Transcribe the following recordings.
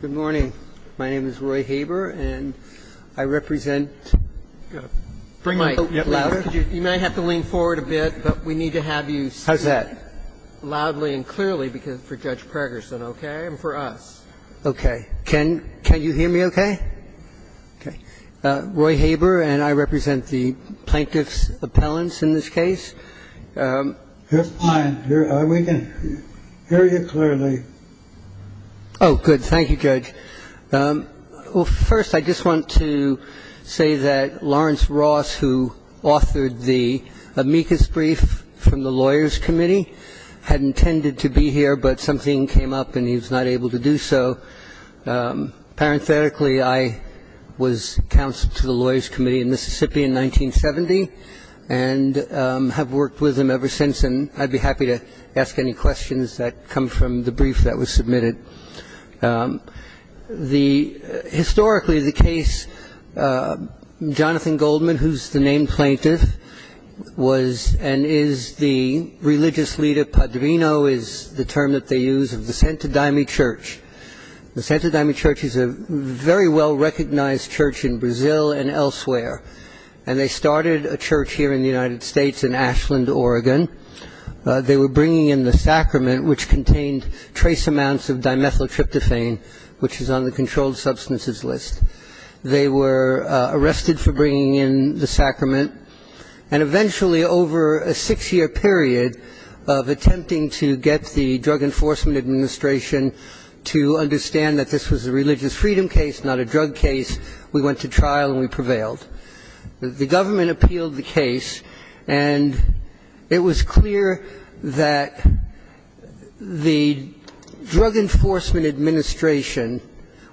Good morning. My name is Roy Haber, and I represent the plaintiff's appellants in this case. Yes, fine. We can hear you clearly. Oh, good. Thank you, Judge. Well, first, I just want to say that Lawrence Ross, who authored the amicus brief from the lawyers' committee, had intended to be here, but something came up and he was not able to do so. Parenthetically, I was counsel to the lawyers' committee in Mississippi in 1970 and have worked with them ever since, and I'd be happy to ask any questions that come from the brief that was submitted. Historically, the case, Jonathan Goldman, who's the named plaintiff, was and is the religious leader, padrino is the term that they use, of the Santo Daime Church. The Santo Daime Church is a very well-recognized church in Brazil and elsewhere, and they started a church here in the United States in Ashland, Oregon. They were bringing in the sacrament, which contained trace amounts of dimethyltryptophan, which is on the controlled substances list. They were arrested for bringing in the sacrament. And eventually, over a six-year period of attempting to get the Drug Enforcement Administration to understand that this was a religious freedom case, not a drug case, we went to trial and we prevailed. The government appealed the case, and it was clear that the Drug Enforcement Administration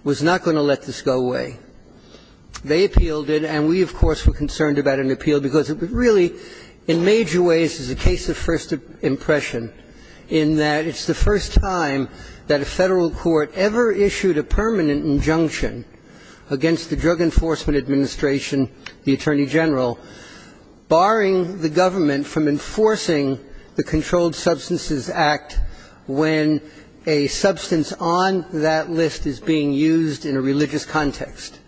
was not going to let this go away. They appealed it, and we, of course, were concerned about an appeal because it really, in major ways, is a case of first impression in that it's the first time that a Federal Court ever issued a permanent injunction against the Drug Enforcement Administration, the Attorney General, barring the government from enforcing the Controlled Substances Act when a substance on that list is being used in a religious context.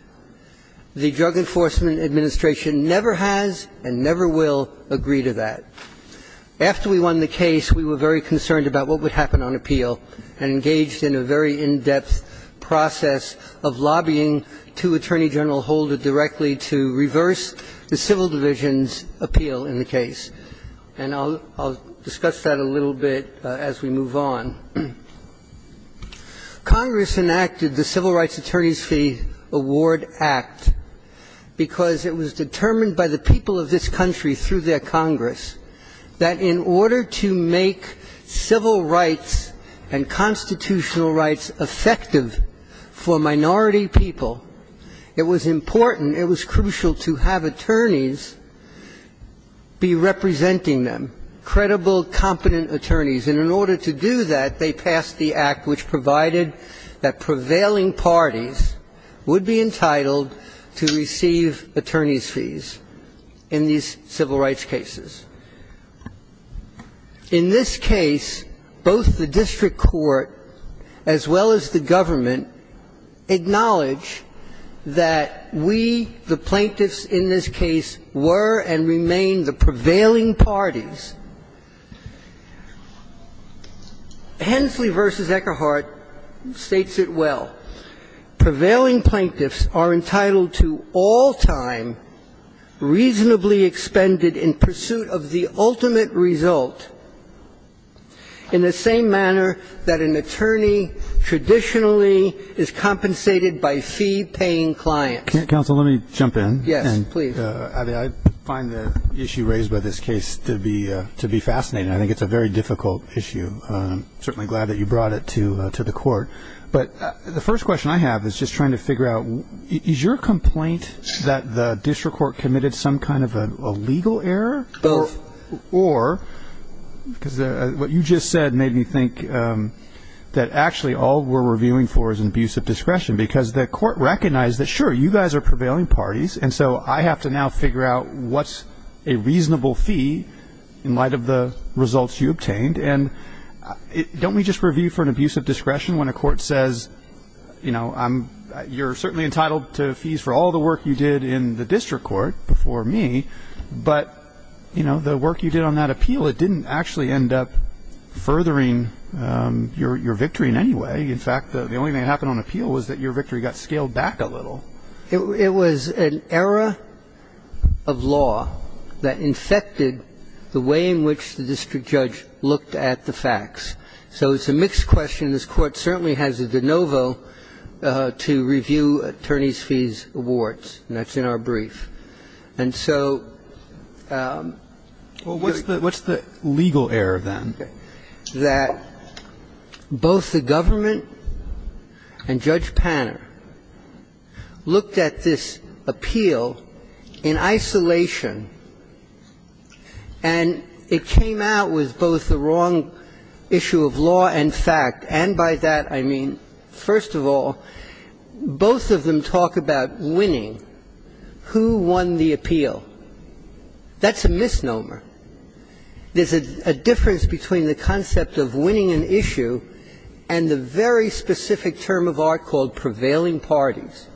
The Drug Enforcement Administration never has and never will agree to that. After we won the case, we were very concerned about what would happen on appeal and engaged in a very in-depth process of lobbying to Attorney General Holder directly to reverse the Civil Division's appeal in the case. And I'll discuss that a little bit as we move on. Congress enacted the Civil Rights Attorneys' Fee Award Act because it was determined by the people of this country through their Congress that in order to make civil rights and constitutional rights effective for minority people, it was important, and it was crucial to have attorneys be representing them, credible, competent attorneys. And in order to do that, they passed the act which provided that prevailing parties would be entitled to receive attorneys' fees in these civil rights cases. In this case, both the district court as well as the government acknowledge that we, the plaintiffs in this case, were and remain the prevailing parties. Hensley v. Eckerhart states it well. Prevailing plaintiffs are entitled to all time reasonably expended in pursuit of the ultimate result in the same manner that an attorney traditionally is compensated by fee-paying clients. Counsel, let me jump in. Yes, please. I find the issue raised by this case to be fascinating. I think it's a very difficult issue. I'm certainly glad that you brought it to the court. But the first question I have is just trying to figure out, is your complaint that the district court committed some kind of a legal error? Both. Or because what you just said made me think that actually all we're reviewing for is an abuse of discretion because the court recognized that, sure, you guys are prevailing parties, and so I have to now figure out what's a reasonable fee in light of the results you obtained. And don't we just review for an abuse of discretion when a court says, you know, you're certainly entitled to fees for all the work you did in the district court before me, but, you know, the work you did on that appeal, it didn't actually end up furthering your victory in any way. In fact, the only thing that happened on appeal was that your victory got scaled back a little. It was an error of law that infected the way in which the district judge looked at the facts. So it's a mixed question. This Court certainly has a de novo to review attorneys' fees awards, and that's in our brief. And so the question is, what's the legal error then? That both the government and Judge Panner looked at this appeal in isolation and it came out with both the wrong issue of law and fact, and by that I mean, first of all, both of them talk about winning. Who won the appeal? That's a misnomer. There's a difference between the concept of winning an issue and the very specific term of art called prevailing parties.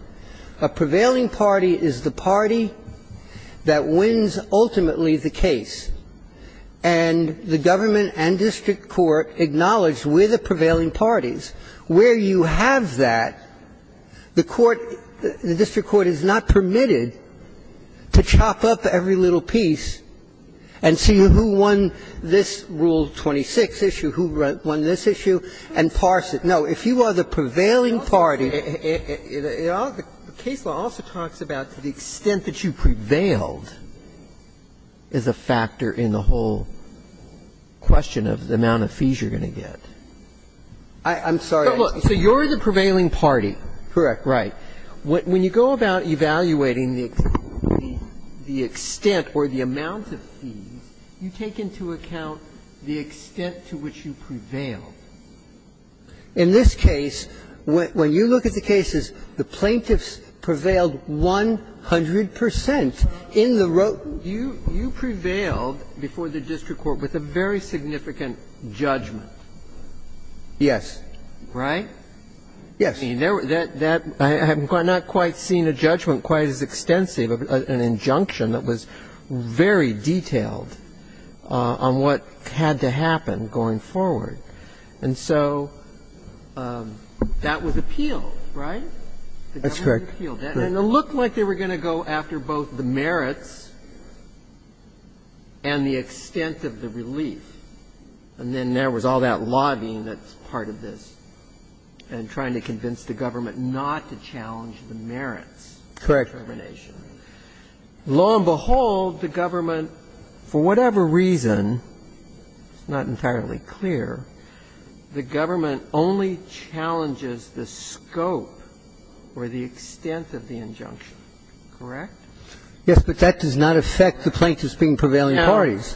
A prevailing party is the party that wins ultimately the case. And the government and district court acknowledge we're the prevailing parties. Where you have that, the court, the district court is not permitted to chop up every little piece and see who won this Rule 26 issue, who won this issue, and parse it. No. If you are the prevailing party, the case law also talks about the extent that you are the prevailing party. I'm trying to get at what's the factor in the whole question of the amount of fees you're going to get. I'm sorry. So you're the prevailing party. Correct. Right. When you go about evaluating the extent or the amount of fees, you take into account the extent to which you prevail. In this case, when you look at the cases, the plaintiffs prevailed 100 percent in the row. You prevailed before the district court with a very significant judgment. Yes. Right? Yes. I mean, I have not quite seen a judgment quite as extensive, an injunction that was very detailed on what had to happen going forward. And so that was appealed, right? That's correct. And it looked like they were going to go after both the merits and the extent of the relief. And then there was all that lobbying that's part of this and trying to convince the government not to challenge the merits. Correct. Law and behold, the government, for whatever reason, it's not entirely clear, the government only challenges the scope or the extent of the injunction. Correct? Yes, but that does not affect the plaintiffs being prevailing parties.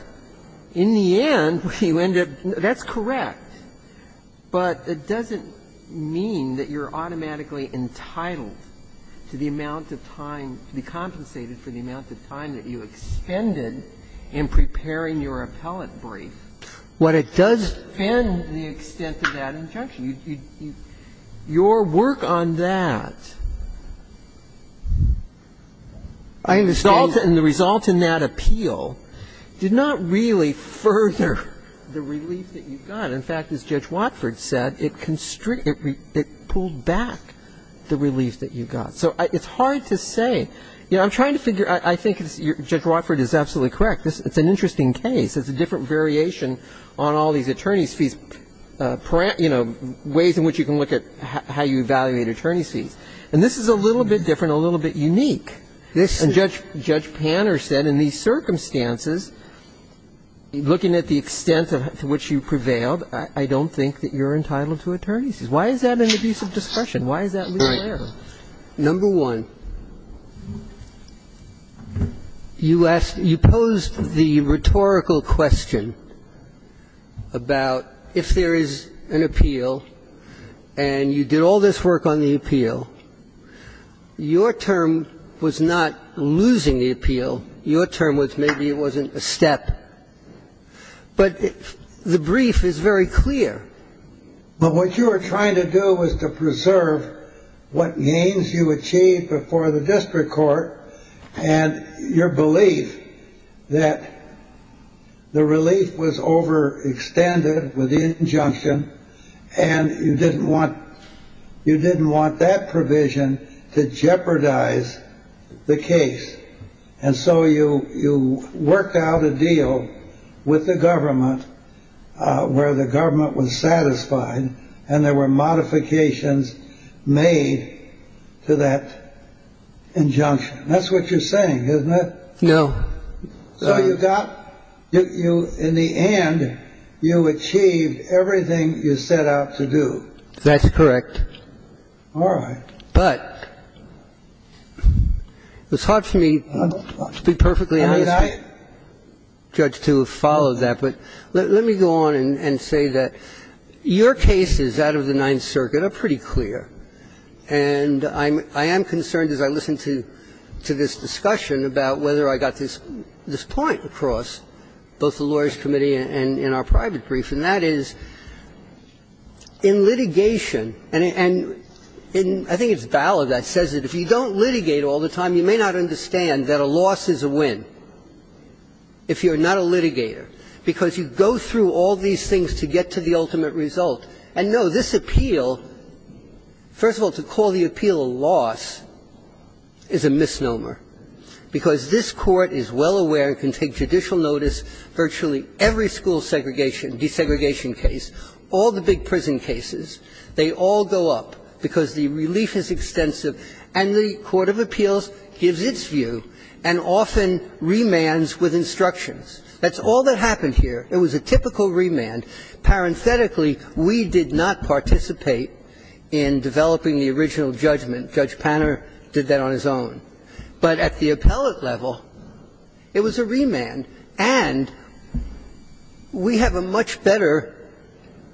Now, in the end, you end up – that's correct. But it doesn't mean that you're automatically entitled to the amount of time, to be compensated for the amount of time that you expended in preparing your appellate brief. What it does depend the extent of that injunction. Your work on that and the result in that appeal did not really further the relief that you got. In fact, as Judge Watford said, it constricted – it pulled back the relief that you got. So it's hard to say. You know, I'm trying to figure – I think Judge Watford is absolutely correct. It's an interesting case. It's a different variation on all these attorney's fees, you know, ways in which you can look at how you evaluate attorney's fees. And this is a little bit different, a little bit unique. This is – And Judge Panner said in these circumstances, looking at the extent to which you prevailed, I don't think that you're entitled to attorney's fees. Why is that an abuse of discretion? Why is that there? Right. Number one, you asked – you posed the rhetorical question about if there is an appeal and you did all this work on the appeal, your term was not losing the appeal. Your term was maybe it wasn't a step. But the brief is very clear. But what you were trying to do was to preserve what gains you achieved before the district court and your belief that the relief was overextended with the injunction and you didn't want – you didn't want that provision to jeopardize the case. And so you worked out a deal with the government where the government was satisfied and there were modifications made to that injunction. That's what you're saying, isn't it? No. So you got – you – in the end, you achieved everything you set out to do. That's correct. All right. But it's hard for me to be perfectly honest, Judge, to follow that. But let me go on and say that your cases out of the Ninth Circuit are pretty clear. And I am concerned as I listen to this discussion about whether I got this point across both the Lawyers' Committee and in our private brief, and that is, in litigation – and I think it's valid that it says that if you don't litigate all the time, you may not understand that a loss is a win if you're not a litigator, because you go through all these things to get to the ultimate result. And, no, this appeal – first of all, to call the appeal a loss is a misnomer, because this Court is well aware and can take judicial notice virtually every school segregation, desegregation case, all the big prison cases. They all go up because the relief is extensive, and the court of appeals gives its view and often remands with instructions. That's all that happened here. It was a typical remand. Parenthetically, we did not participate in developing the original judgment. Judge Panner did that on his own. But at the appellate level, it was a remand. And we have a much better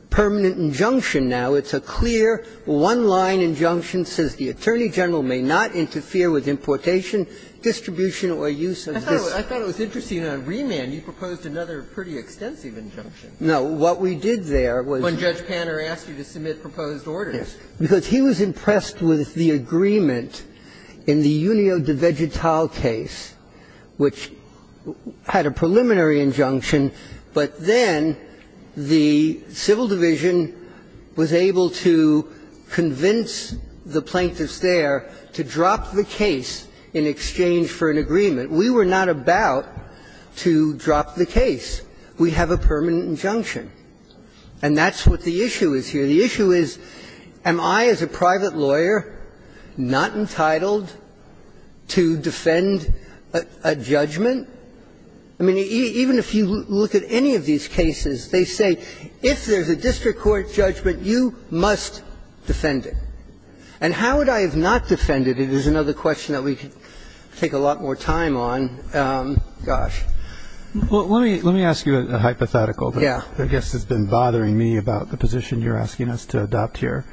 permanent injunction now. It's a clear, one-line injunction that says the attorney general may not interfere with importation, distribution, or use of this. I thought it was interesting that on remand, you proposed another pretty extensive injunction. No. What we did there was – When Judge Panner asked you to submit proposed orders. Because he was impressed with the agreement in the Junio de Vegetal case, which had a preliminary injunction, but then the civil division was able to convince the plaintiffs there to drop the case in exchange for an agreement. We were not about to drop the case. We have a permanent injunction. And that's what the issue is here. The issue is, am I, as a private lawyer, not entitled to defend a judgment? I mean, even if you look at any of these cases, they say if there's a district court judgment, you must defend it. And how would I have not defended it is another question that we could take a lot more time on. Gosh. Well, let me ask you a hypothetical that I guess has been bothering me about the plaintiffs to adopt here.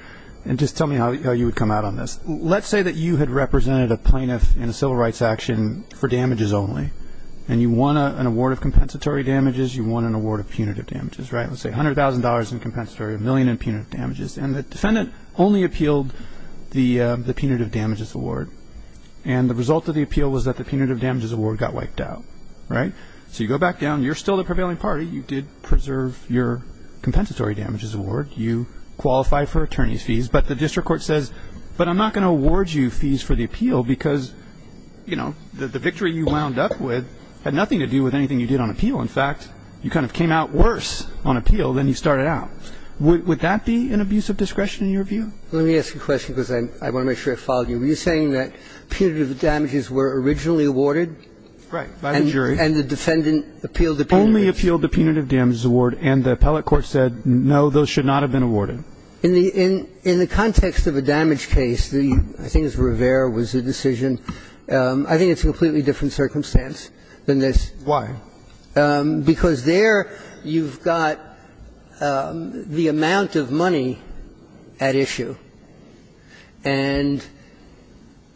And just tell me how you would come out on this. Let's say that you had represented a plaintiff in a civil rights action for damages only. And you won an award of compensatory damages. You won an award of punitive damages. Right? Let's say $100,000 in compensatory, a million in punitive damages. And the defendant only appealed the punitive damages award. And the result of the appeal was that the punitive damages award got wiped out. Right? So you go back down. You're still the prevailing party. You did preserve your compensatory damages award. You qualified for attorney's fees. But the district court says, but I'm not going to award you fees for the appeal because, you know, the victory you wound up with had nothing to do with anything you did on appeal. In fact, you kind of came out worse on appeal than you started out. Would that be an abuse of discretion in your view? Let me ask you a question because I want to make sure I follow you. Were you saying that punitive damages were originally awarded? Right, by the jury. And the defendant appealed the punitive damages. Only appealed the punitive damages award. And the appellate court said, no, those should not have been awarded. In the context of a damage case, I think it was Rivera was the decision. I think it's a completely different circumstance than this. Why? Because there you've got the amount of money at issue. And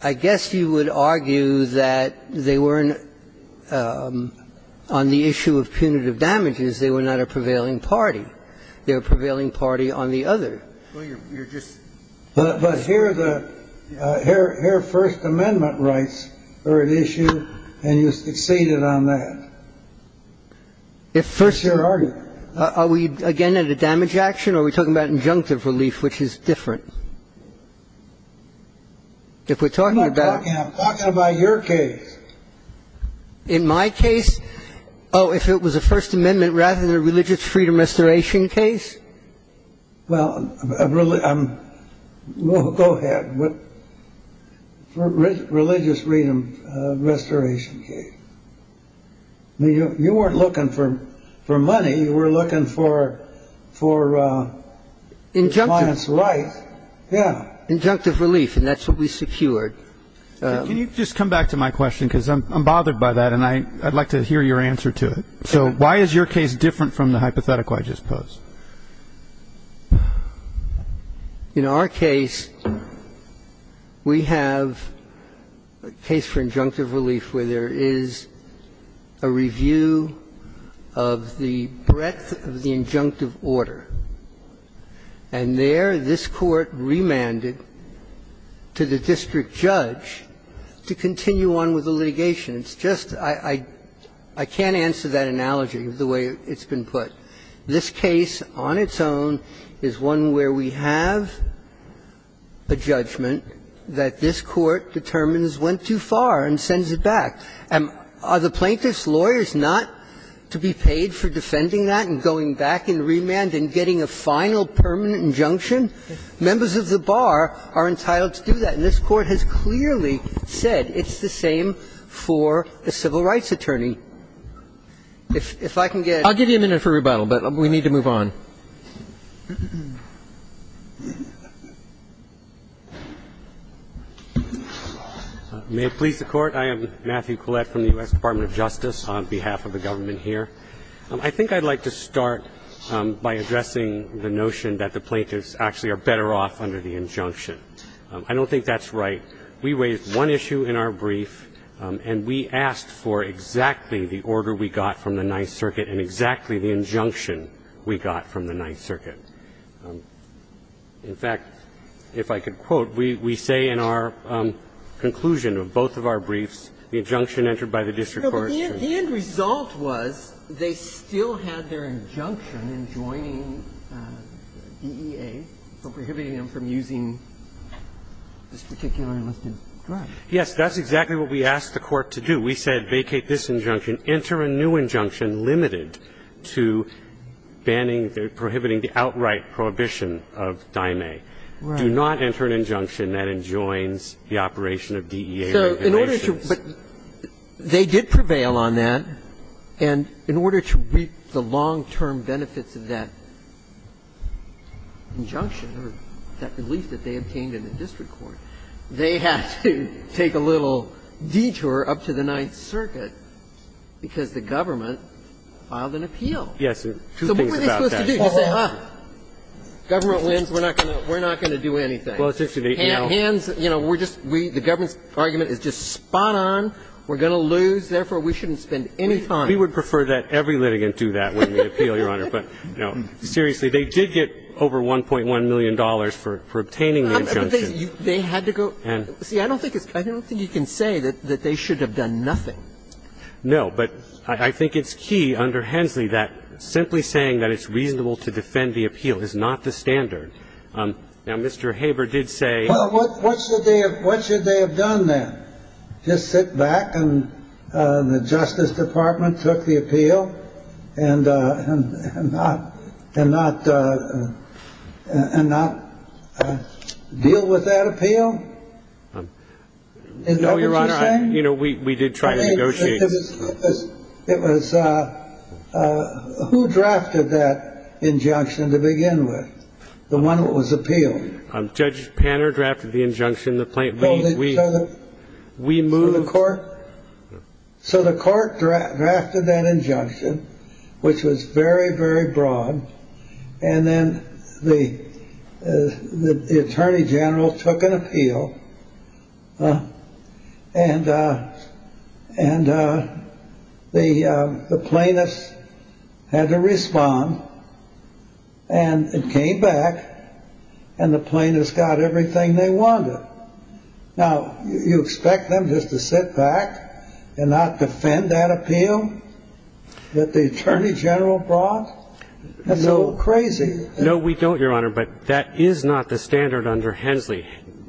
I guess you would argue that they weren't on the issue of punitive damages. They were not a prevailing party. They were a prevailing party on the other. Well, you're just – But here the – here First Amendment rights are at issue and you succeeded on that. If First – That's your argument. Are we again at a damage action or are we talking about injunctive relief, which is different? If we're talking about – I'm not talking – I'm talking about your case. In my case? Oh, if it was a First Amendment rather than a religious freedom restoration case? Well, I'm – go ahead. Religious freedom restoration case. I mean, you weren't looking for money. You were looking for client's rights. Injunctive. Yeah. Injunctive relief. And that's what we secured. Can you just come back to my question because I'm bothered by that and I'd like to hear your answer to it. So why is your case different from the hypothetical I just posed? In our case, we have a case for injunctive relief where there is a review of the breadth of the injunctive order. And there this Court remanded to the district judge to continue on with the litigation. It's just – I can't answer that analogy the way it's been put. This case on its own is one where we have a judgment that this Court determines went too far and sends it back. And are the plaintiff's lawyers not to be paid for defending that and going back in remand and getting a final permanent injunction? Members of the bar are entitled to do that. And this Court has clearly said it's the same for a civil rights attorney. If I can get a minute. I'll give you a minute for rebuttal, but we need to move on. May it please the Court. I am Matthew Collette from the U.S. Department of Justice on behalf of the government here. I think I'd like to start by addressing the notion that the plaintiffs actually are better off under the injunction. I don't think that's right. We raised one issue in our brief and we asked for exactly the order we got from the Ninth Circuit. In fact, if I could quote, we say in our conclusion of both of our briefs, the injunction entered by the district court should not be used. The end result was they still had their injunction in joining DEA for prohibiting them from using this particular enlisted drug. Yes. That's exactly what we asked the Court to do. We said vacate this injunction. Enter a new injunction limited to banning, prohibiting the outright prohibition of Dime. Right. Do not enter an injunction that enjoins the operation of DEA regulations. But they did prevail on that, and in order to reap the long-term benefits of that injunction or that belief that they obtained in the district court, they had to take a little detour up to the Ninth Circuit because the government filed an appeal. Yes. So what were they supposed to do? Just say, huh, government wins, we're not going to do anything. Hands, you know, we're just we the government's argument is just spot on. We're going to lose. Therefore, we shouldn't spend any time. We would prefer that every litigant do that when we appeal, Your Honor. But seriously, they did get over $1.1 million for obtaining the injunction. But they had to go. See, I don't think you can say that they should have done nothing. No. But I think it's key under Hensley that simply saying that it's reasonable to defend the appeal is not the standard. Now, Mr. Haber did say. Well, what should they have done then? Just sit back and the Justice Department took the appeal and not deal with that appeal? Is that what you're saying? No, Your Honor. You know, we did try to negotiate. It was who drafted that injunction to begin with, the one that was appealed? Judge Panner drafted the injunction. We moved the court. So the court drafted that injunction, which was very, very broad. And then the attorney general took an appeal and and the plaintiffs had to respond. And it came back and the plaintiffs got everything they wanted. Now, you expect them just to sit back and not defend that appeal that the attorney general brought? That's a little crazy. No, we don't, Your Honor. But that is not the standard under Hensley.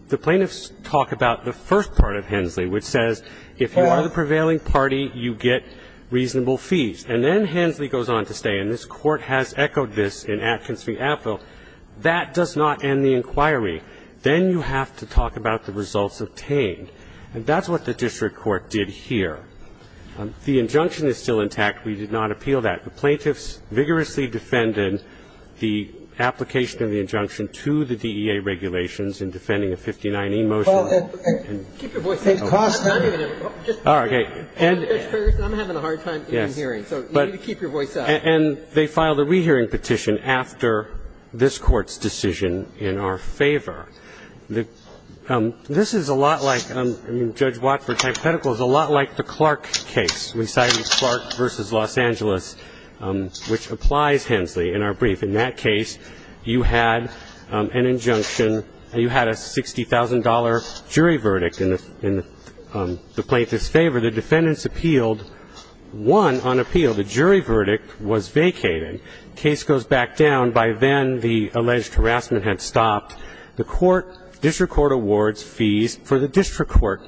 The plaintiffs talk about the first part of Hensley, which says if you are the prevailing party, you get reasonable fees. And then Hensley goes on to say, and this Court has echoed this in Atkins v. Apfel, that does not end the inquiry. Then you have to talk about the results obtained. And that's what the district court did here. The injunction is still intact. We did not appeal that. The plaintiffs vigorously defended the application of the injunction to the DEA regulations in defending a 59E motion. And they filed a re-hearing petition after this Court's decision in our favor. This is a lot like Judge Watford's hypothetical, a lot like the Clark case. We cited Clark v. Los Angeles, which applies Hensley in our brief. In that case, you had an injunction. You had a $60,000 jury verdict in the plaintiff's favor. The defendants appealed, won on appeal. The jury verdict was vacated. Case goes back down. By then, the alleged harassment had stopped. The court, district court awards fees for the district court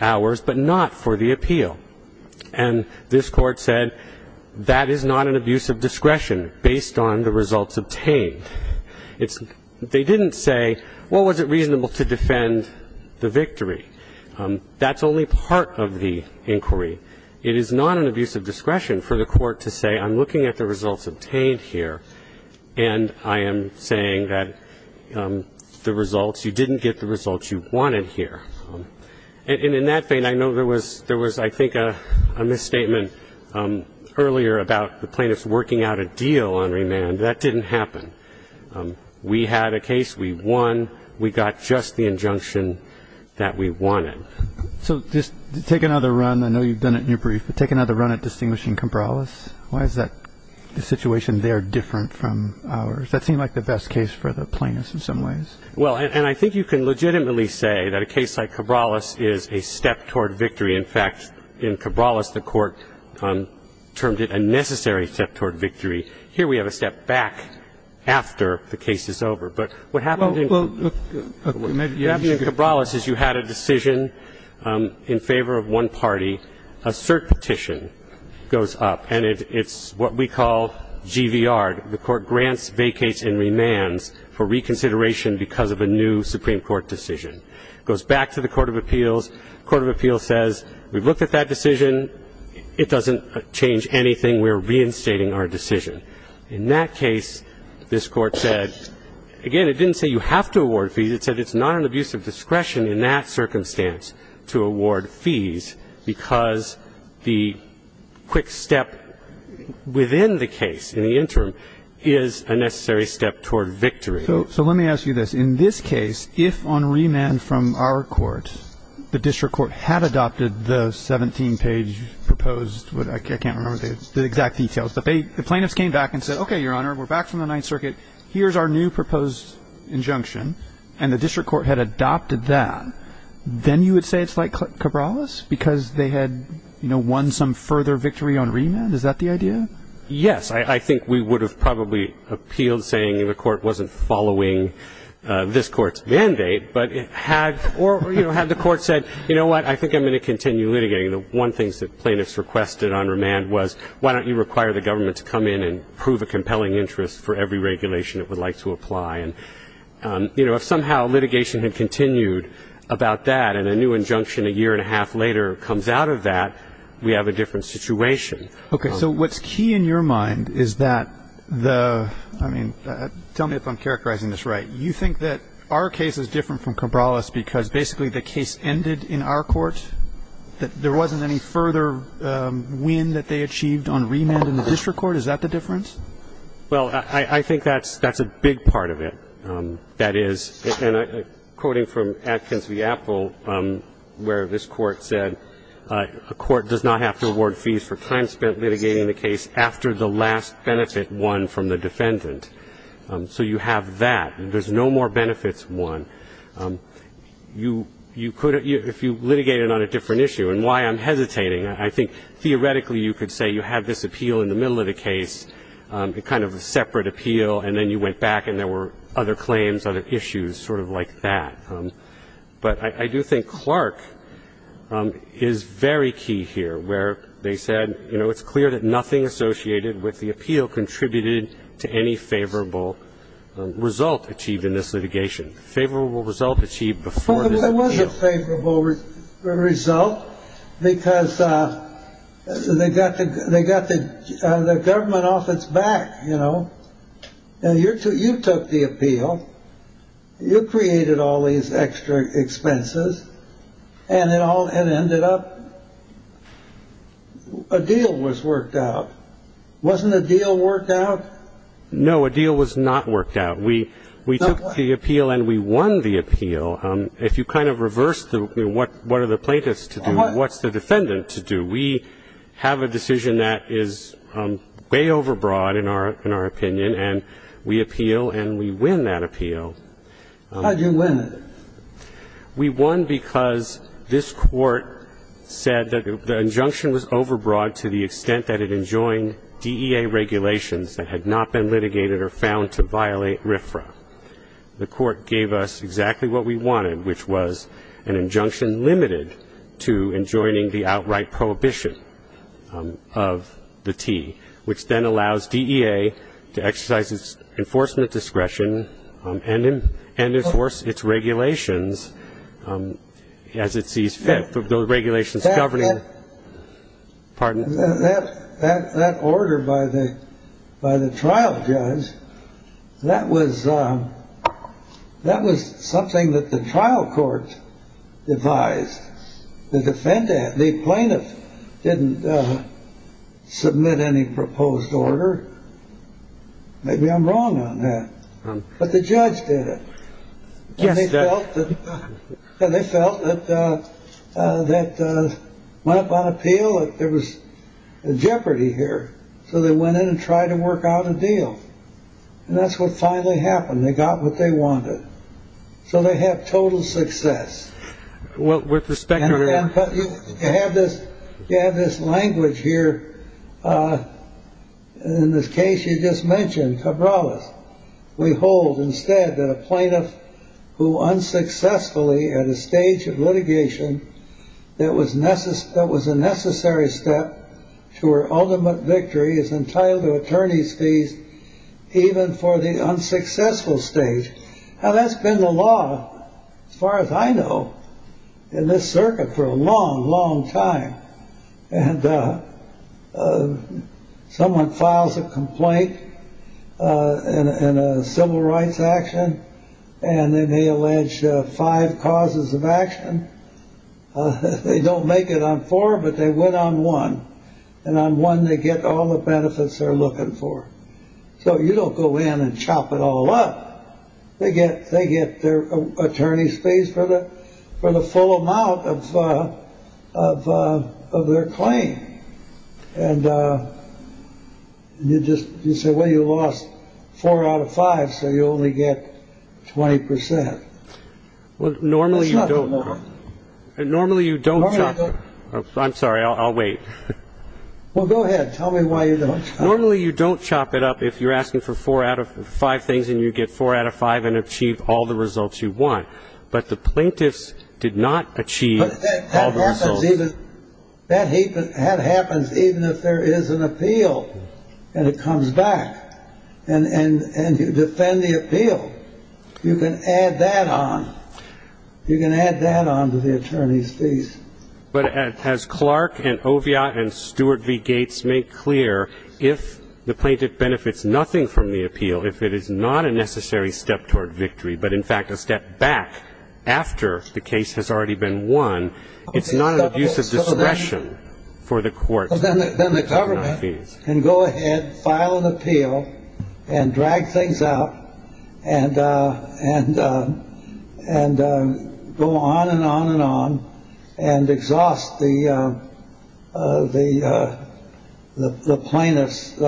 hours, but not for the appeal. And this Court said that is not an abuse of discretion based on the results obtained. They didn't say, well, was it reasonable to defend the victory? That's only part of the inquiry. It is not an abuse of discretion for the court to say, I'm looking at the results obtained here, and I am saying that the results, you didn't get the results you wanted here. And in that vein, I know there was, I think, a misstatement earlier about the plaintiffs working out a deal on remand. That didn't happen. We had a case. We won. We got just the injunction that we wanted. So just to take another run, I know you've done it in your brief, but take another run at distinguishing Cabrales. Why is that situation there different from ours? That seemed like the best case for the plaintiffs in some ways. Well, and I think you can legitimately say that a case like Cabrales is a step toward victory. In fact, in Cabrales, the court termed it a necessary step toward victory. Here we have a step back after the case is over. But what happened in Cabrales is you had a decision in favor of one party. A cert petition goes up, and it's what we call GVR. The court grants, vacates, and remands for reconsideration because of a new Supreme Court decision. It goes back to the court of appeals. The court of appeals says, we've looked at that decision. It doesn't change anything. We're reinstating our decision. In that case, this Court said, again, it didn't say you have to award fees. It said it's not an abuse of discretion in that circumstance to award fees because the quick step within the case in the interim is a necessary step toward victory. So let me ask you this. In this case, if on remand from our court, the district court had adopted the 17-page proposed, I can't remember the exact details, but the plaintiffs came back and said, okay, Your Honor, we're back from the Ninth Circuit. Here's our new proposed injunction. And the district court had adopted that. Then you would say it's like Cabrales because they had, you know, won some further victory on remand? Is that the idea? Yes. I think we would have probably appealed saying the court wasn't following this court's mandate, but had the court said, you know what, I think I'm going to continue litigating. The one thing that plaintiffs requested on remand was why don't you require the government to come in and prove a compelling interest for every regulation it would like to apply. And, you know, if somehow litigation had continued about that and a new injunction a year and a half later comes out of that, we have a different situation. Okay. So what's key in your mind is that the, I mean, tell me if I'm characterizing this right. You think that our case is different from Cabrales because basically the case ended in our court? That there wasn't any further win that they achieved on remand in the district court? Is that the difference? Well, I think that's a big part of it. That is, and quoting from Atkins v. Apple where this court said, a court does not have to award fees for time spent litigating the case after the last benefit won from the defendant. So you have that. There's no more benefits won. You could, if you litigated on a different issue, and why I'm hesitating, I think theoretically you could say you had this appeal in the middle of the case, kind of a separate appeal, and then you went back and there were other claims, other issues, sort of like that. But I do think Clark is very key here where they said, you know, it's clear that nothing associated with the appeal contributed to any favorable result achieved in this litigation. Favorable result achieved before this appeal. Well, it was a favorable result because they got the government off its back, you know. You took the appeal. You created all these extra expenses, and it ended up a deal was worked out. Wasn't a deal worked out? No, a deal was not worked out. We took the appeal and we won the appeal. If you kind of reverse what are the plaintiffs to do, what's the defendant to do? We have a decision that is way overbroad, in our opinion, and we appeal and we win that appeal. How did you win it? We won because this Court said that the injunction was overbroad to the extent that it enjoined DEA regulations that had not been litigated or found to violate RFRA. The Court gave us exactly what we wanted, which was an injunction limited to enjoining the outright prohibition of the T, which then allows DEA to exercise its enforcement discretion and enforce its regulations as it sees fit. That order by the trial judge, that was something that the trial court devised. The plaintiff didn't submit any proposed order. Maybe I'm wrong on that. But the judge did it. They felt that went up on appeal that there was a jeopardy here, so they went in and tried to work out a deal. And that's what finally happened. They got what they wanted. So they had total success. Well, with respect to that. You have this language here. In this case you just mentioned Cabrales. We hold instead that a plaintiff who unsuccessfully, at a stage of litigation, that was a necessary step to her ultimate victory is entitled to attorney's fees, even for the unsuccessful stage. Now that's been the law, as far as I know, in this circuit for a long, long time. And someone files a complaint in a civil rights action. And then they allege five causes of action. They don't make it on four, but they went on one. And on one they get all the benefits they're looking for. So you don't go in and chop it all up. They get their attorney's fees for the full amount of their claim. And you just say, well, you lost four out of five, so you only get 20%. Well, normally you don't. Normally you don't. I'm sorry. I'll wait. Well, go ahead. Tell me why you don't. Well, you don't chop it up if you're asking for four out of five things, and you get four out of five and achieve all the results you want. But the plaintiffs did not achieve all the results. That happens even if there is an appeal, and it comes back, and you defend the appeal. You can add that on. You can add that on to the attorney's fees. But as Clark and Oviatt and Stuart v. Gates make clear, if the plaintiff benefits nothing from the appeal, if it is not a necessary step toward victory, but, in fact, a step back after the case has already been won, it's not an abuse of discretion for the court. Then the government can go ahead, file an appeal, and drag things out and go on and on and on and exhaust the the plaintiff's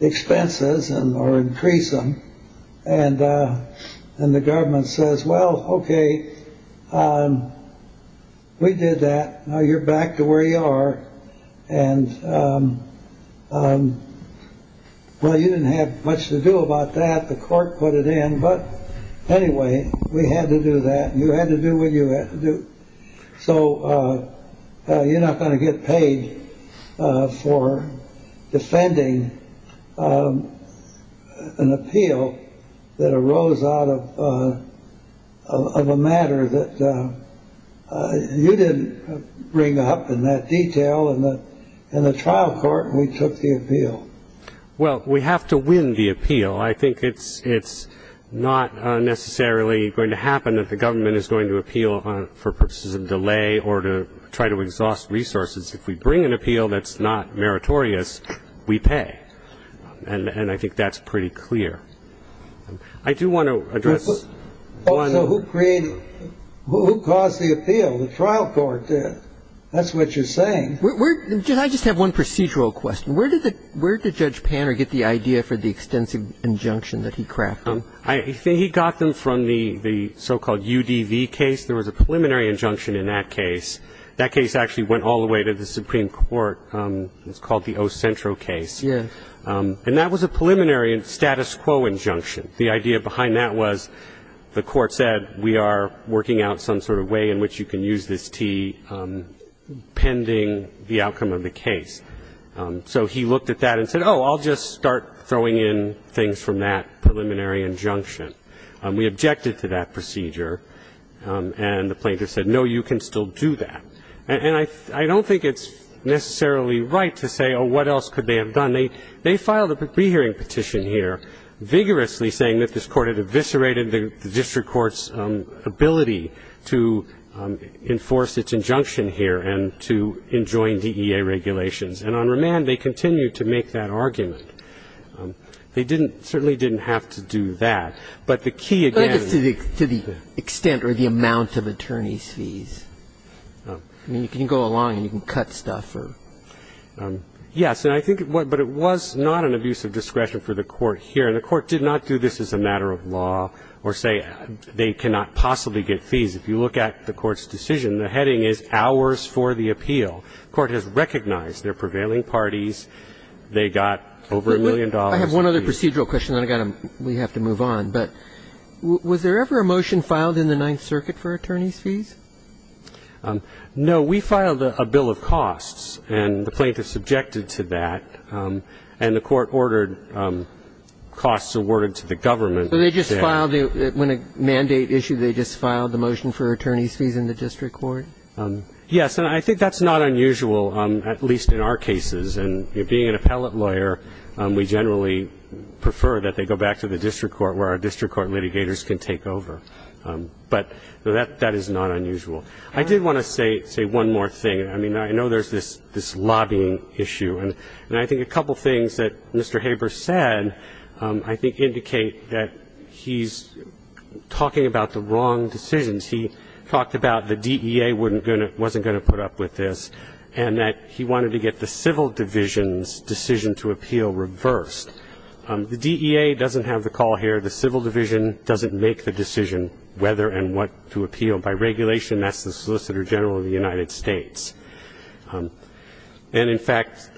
expenses and increase them. And then the government says, well, OK, we did that. You're back to where you are. And well, you didn't have much to do about that. The court put it in. But anyway, we had to do that. You had to do what you had to do. So you're not going to get paid for defending an appeal that arose out of a matter that you didn't bring up in that detail. In the trial court, we took the appeal. Well, we have to win the appeal. I think it's not necessarily going to happen that the government is going to appeal for purposes of delay or to try to exhaust resources. If we bring an appeal that's not meritorious, we pay. And I think that's pretty clear. I do want to address one. So who created it? Who caused the appeal? The trial court did. That's what you're saying. I just have one procedural question. Where did Judge Panner get the idea for the extensive injunction that he crafted? I think he got them from the so-called UDV case. There was a preliminary injunction in that case. That case actually went all the way to the Supreme Court. It was called the O. Centro case. Yes. And that was a preliminary status quo injunction. The idea behind that was the court said we are working out some sort of way in which you can use this T pending the outcome of the case. So he looked at that and said, oh, I'll just start throwing in things from that preliminary injunction. We objected to that procedure. And the plaintiff said, no, you can still do that. And I don't think it's necessarily right to say, oh, what else could they have done? They filed a pre-hearing petition here vigorously saying that this court had eviscerated the district court's ability to enforce its injunction here and to enjoin DEA regulations. And on remand, they continued to make that argument. They didn't – certainly didn't have to do that. But the key again – But just to the extent or the amount of attorney's fees. I mean, you can go along and you can cut stuff or – Yes. And I think – but it was not an abuse of discretion for the court here. And the court did not do this as a matter of law or say they cannot possibly get fees. If you look at the court's decision, the heading is hours for the appeal. The court has recognized their prevailing parties. They got over a million dollars. I have one other procedural question, then we have to move on. But was there ever a motion filed in the Ninth Circuit for attorney's fees? No. We filed a bill of costs, and the plaintiff subjected to that. And the court ordered costs awarded to the government. So they just filed – when a mandate issue, they just filed the motion for attorney's fees in the district court? Yes. And I think that's not unusual, at least in our cases. And being an appellate lawyer, we generally prefer that they go back to the district court where our district court litigators can take over. But that is not unusual. I did want to say one more thing. I mean, I know there's this lobbying issue. And I think a couple things that Mr. Haber said I think indicate that he's talking about the wrong decisions. He talked about the DEA wasn't going to put up with this, and that he wanted to get the civil division's decision to appeal reversed. The DEA doesn't have the call here. The civil division doesn't make the decision whether and what to appeal. By regulation, that's the Solicitor General of the United States. And, in fact,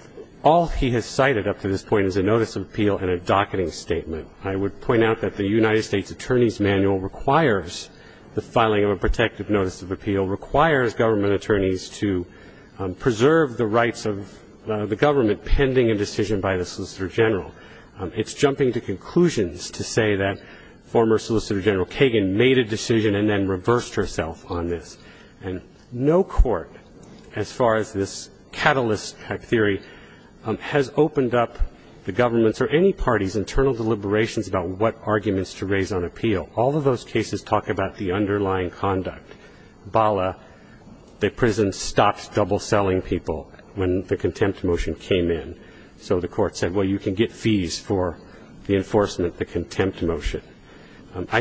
all he has cited up to this point is a notice of appeal and a docketing statement. I would point out that the United States Attorney's Manual requires the filing of a protective notice of appeal, requires government attorneys to preserve the rights of the government pending a decision by the Solicitor General. It's jumping to conclusions to say that former Solicitor General Kagan made a decision and then reversed herself on this. And no court, as far as this catalyst theory, has opened up the government's or any government's decision to appeal. I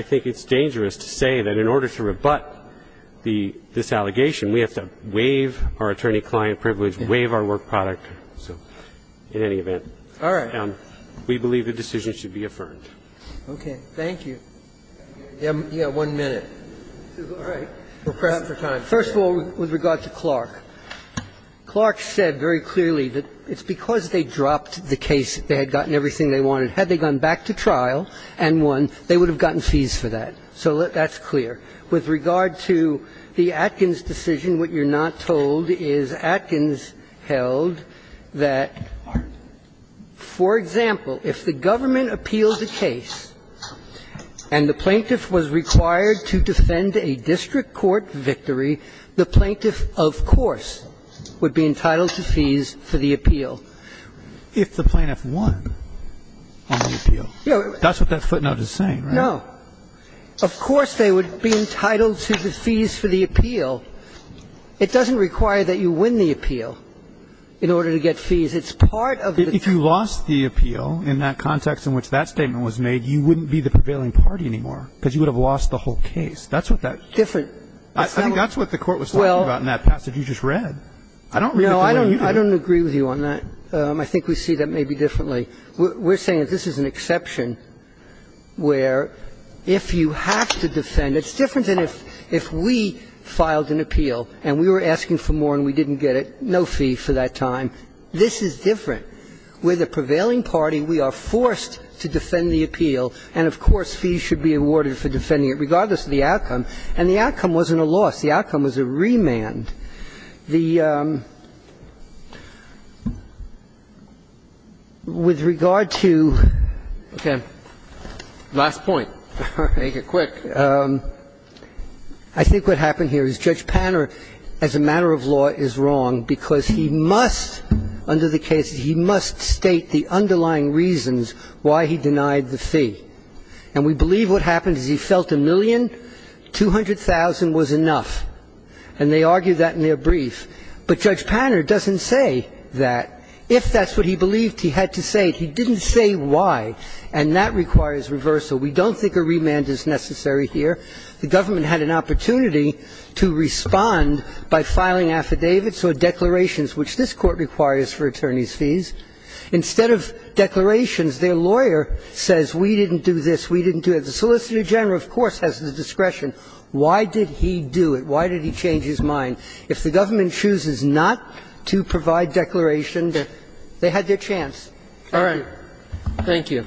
think it's dangerous to say that in order to rebut this allegation, we have to waive our attorney-client privilege, waive our work product, in any event. Thank you. We have one minute. All right. We're cramped for time. First of all, with regard to Clark. Clark said very clearly that it's because they dropped the case, they had gotten everything they wanted. Had they gone back to trial and won, they would have gotten fees for that. So that's clear. With regard to the Atkins decision, what you're not told is Atkins held that, for example, if the government appealed the case and the plaintiff was required to defend a district court victory, the plaintiff, of course, would be entitled to fees for the appeal. If the plaintiff won on the appeal. That's what that footnote is saying, right? No. Of course they would be entitled to the fees for the appeal. It doesn't require that you win the appeal in order to get fees. It's part of the case. If you lost the appeal in that context in which that statement was made, you wouldn't be the prevailing party anymore because you would have lost the whole case. That's what that. Different. I think that's what the Court was talking about in that passage you just read. I don't read it the way you do. No, I don't agree with you on that. I think we see that maybe differently. We're saying that this is an exception where if you have to defend, it's different than if we filed an appeal and we were asking for more and we didn't get it, no fee for that time. This is different. We're the prevailing party. We are forced to defend the appeal. And, of course, fees should be awarded for defending it, regardless of the outcome. And the outcome wasn't a loss. The outcome was a remand. The ---- with regard to ---- Okay. Last point. Make it quick. I think what happened here is Judge Panner, as a matter of law, is wrong because he must, under the case, he must state the underlying reasons why he denied the fee. And we believe what happened is he felt a million, 200,000 was enough. And they argued that in their brief. But Judge Panner doesn't say that. If that's what he believed, he had to say it. He didn't say why. And that requires reversal. We don't think a remand is necessary here. The government had an opportunity to respond by filing affidavits or declarations, which this Court requires for attorneys' fees. Instead of declarations, their lawyer says we didn't do this, we didn't do it. The solicitor general, of course, has the discretion. Why did he do it? Why did he change his mind? If the government chooses not to provide declarations, they had their chance. All right. Thank you.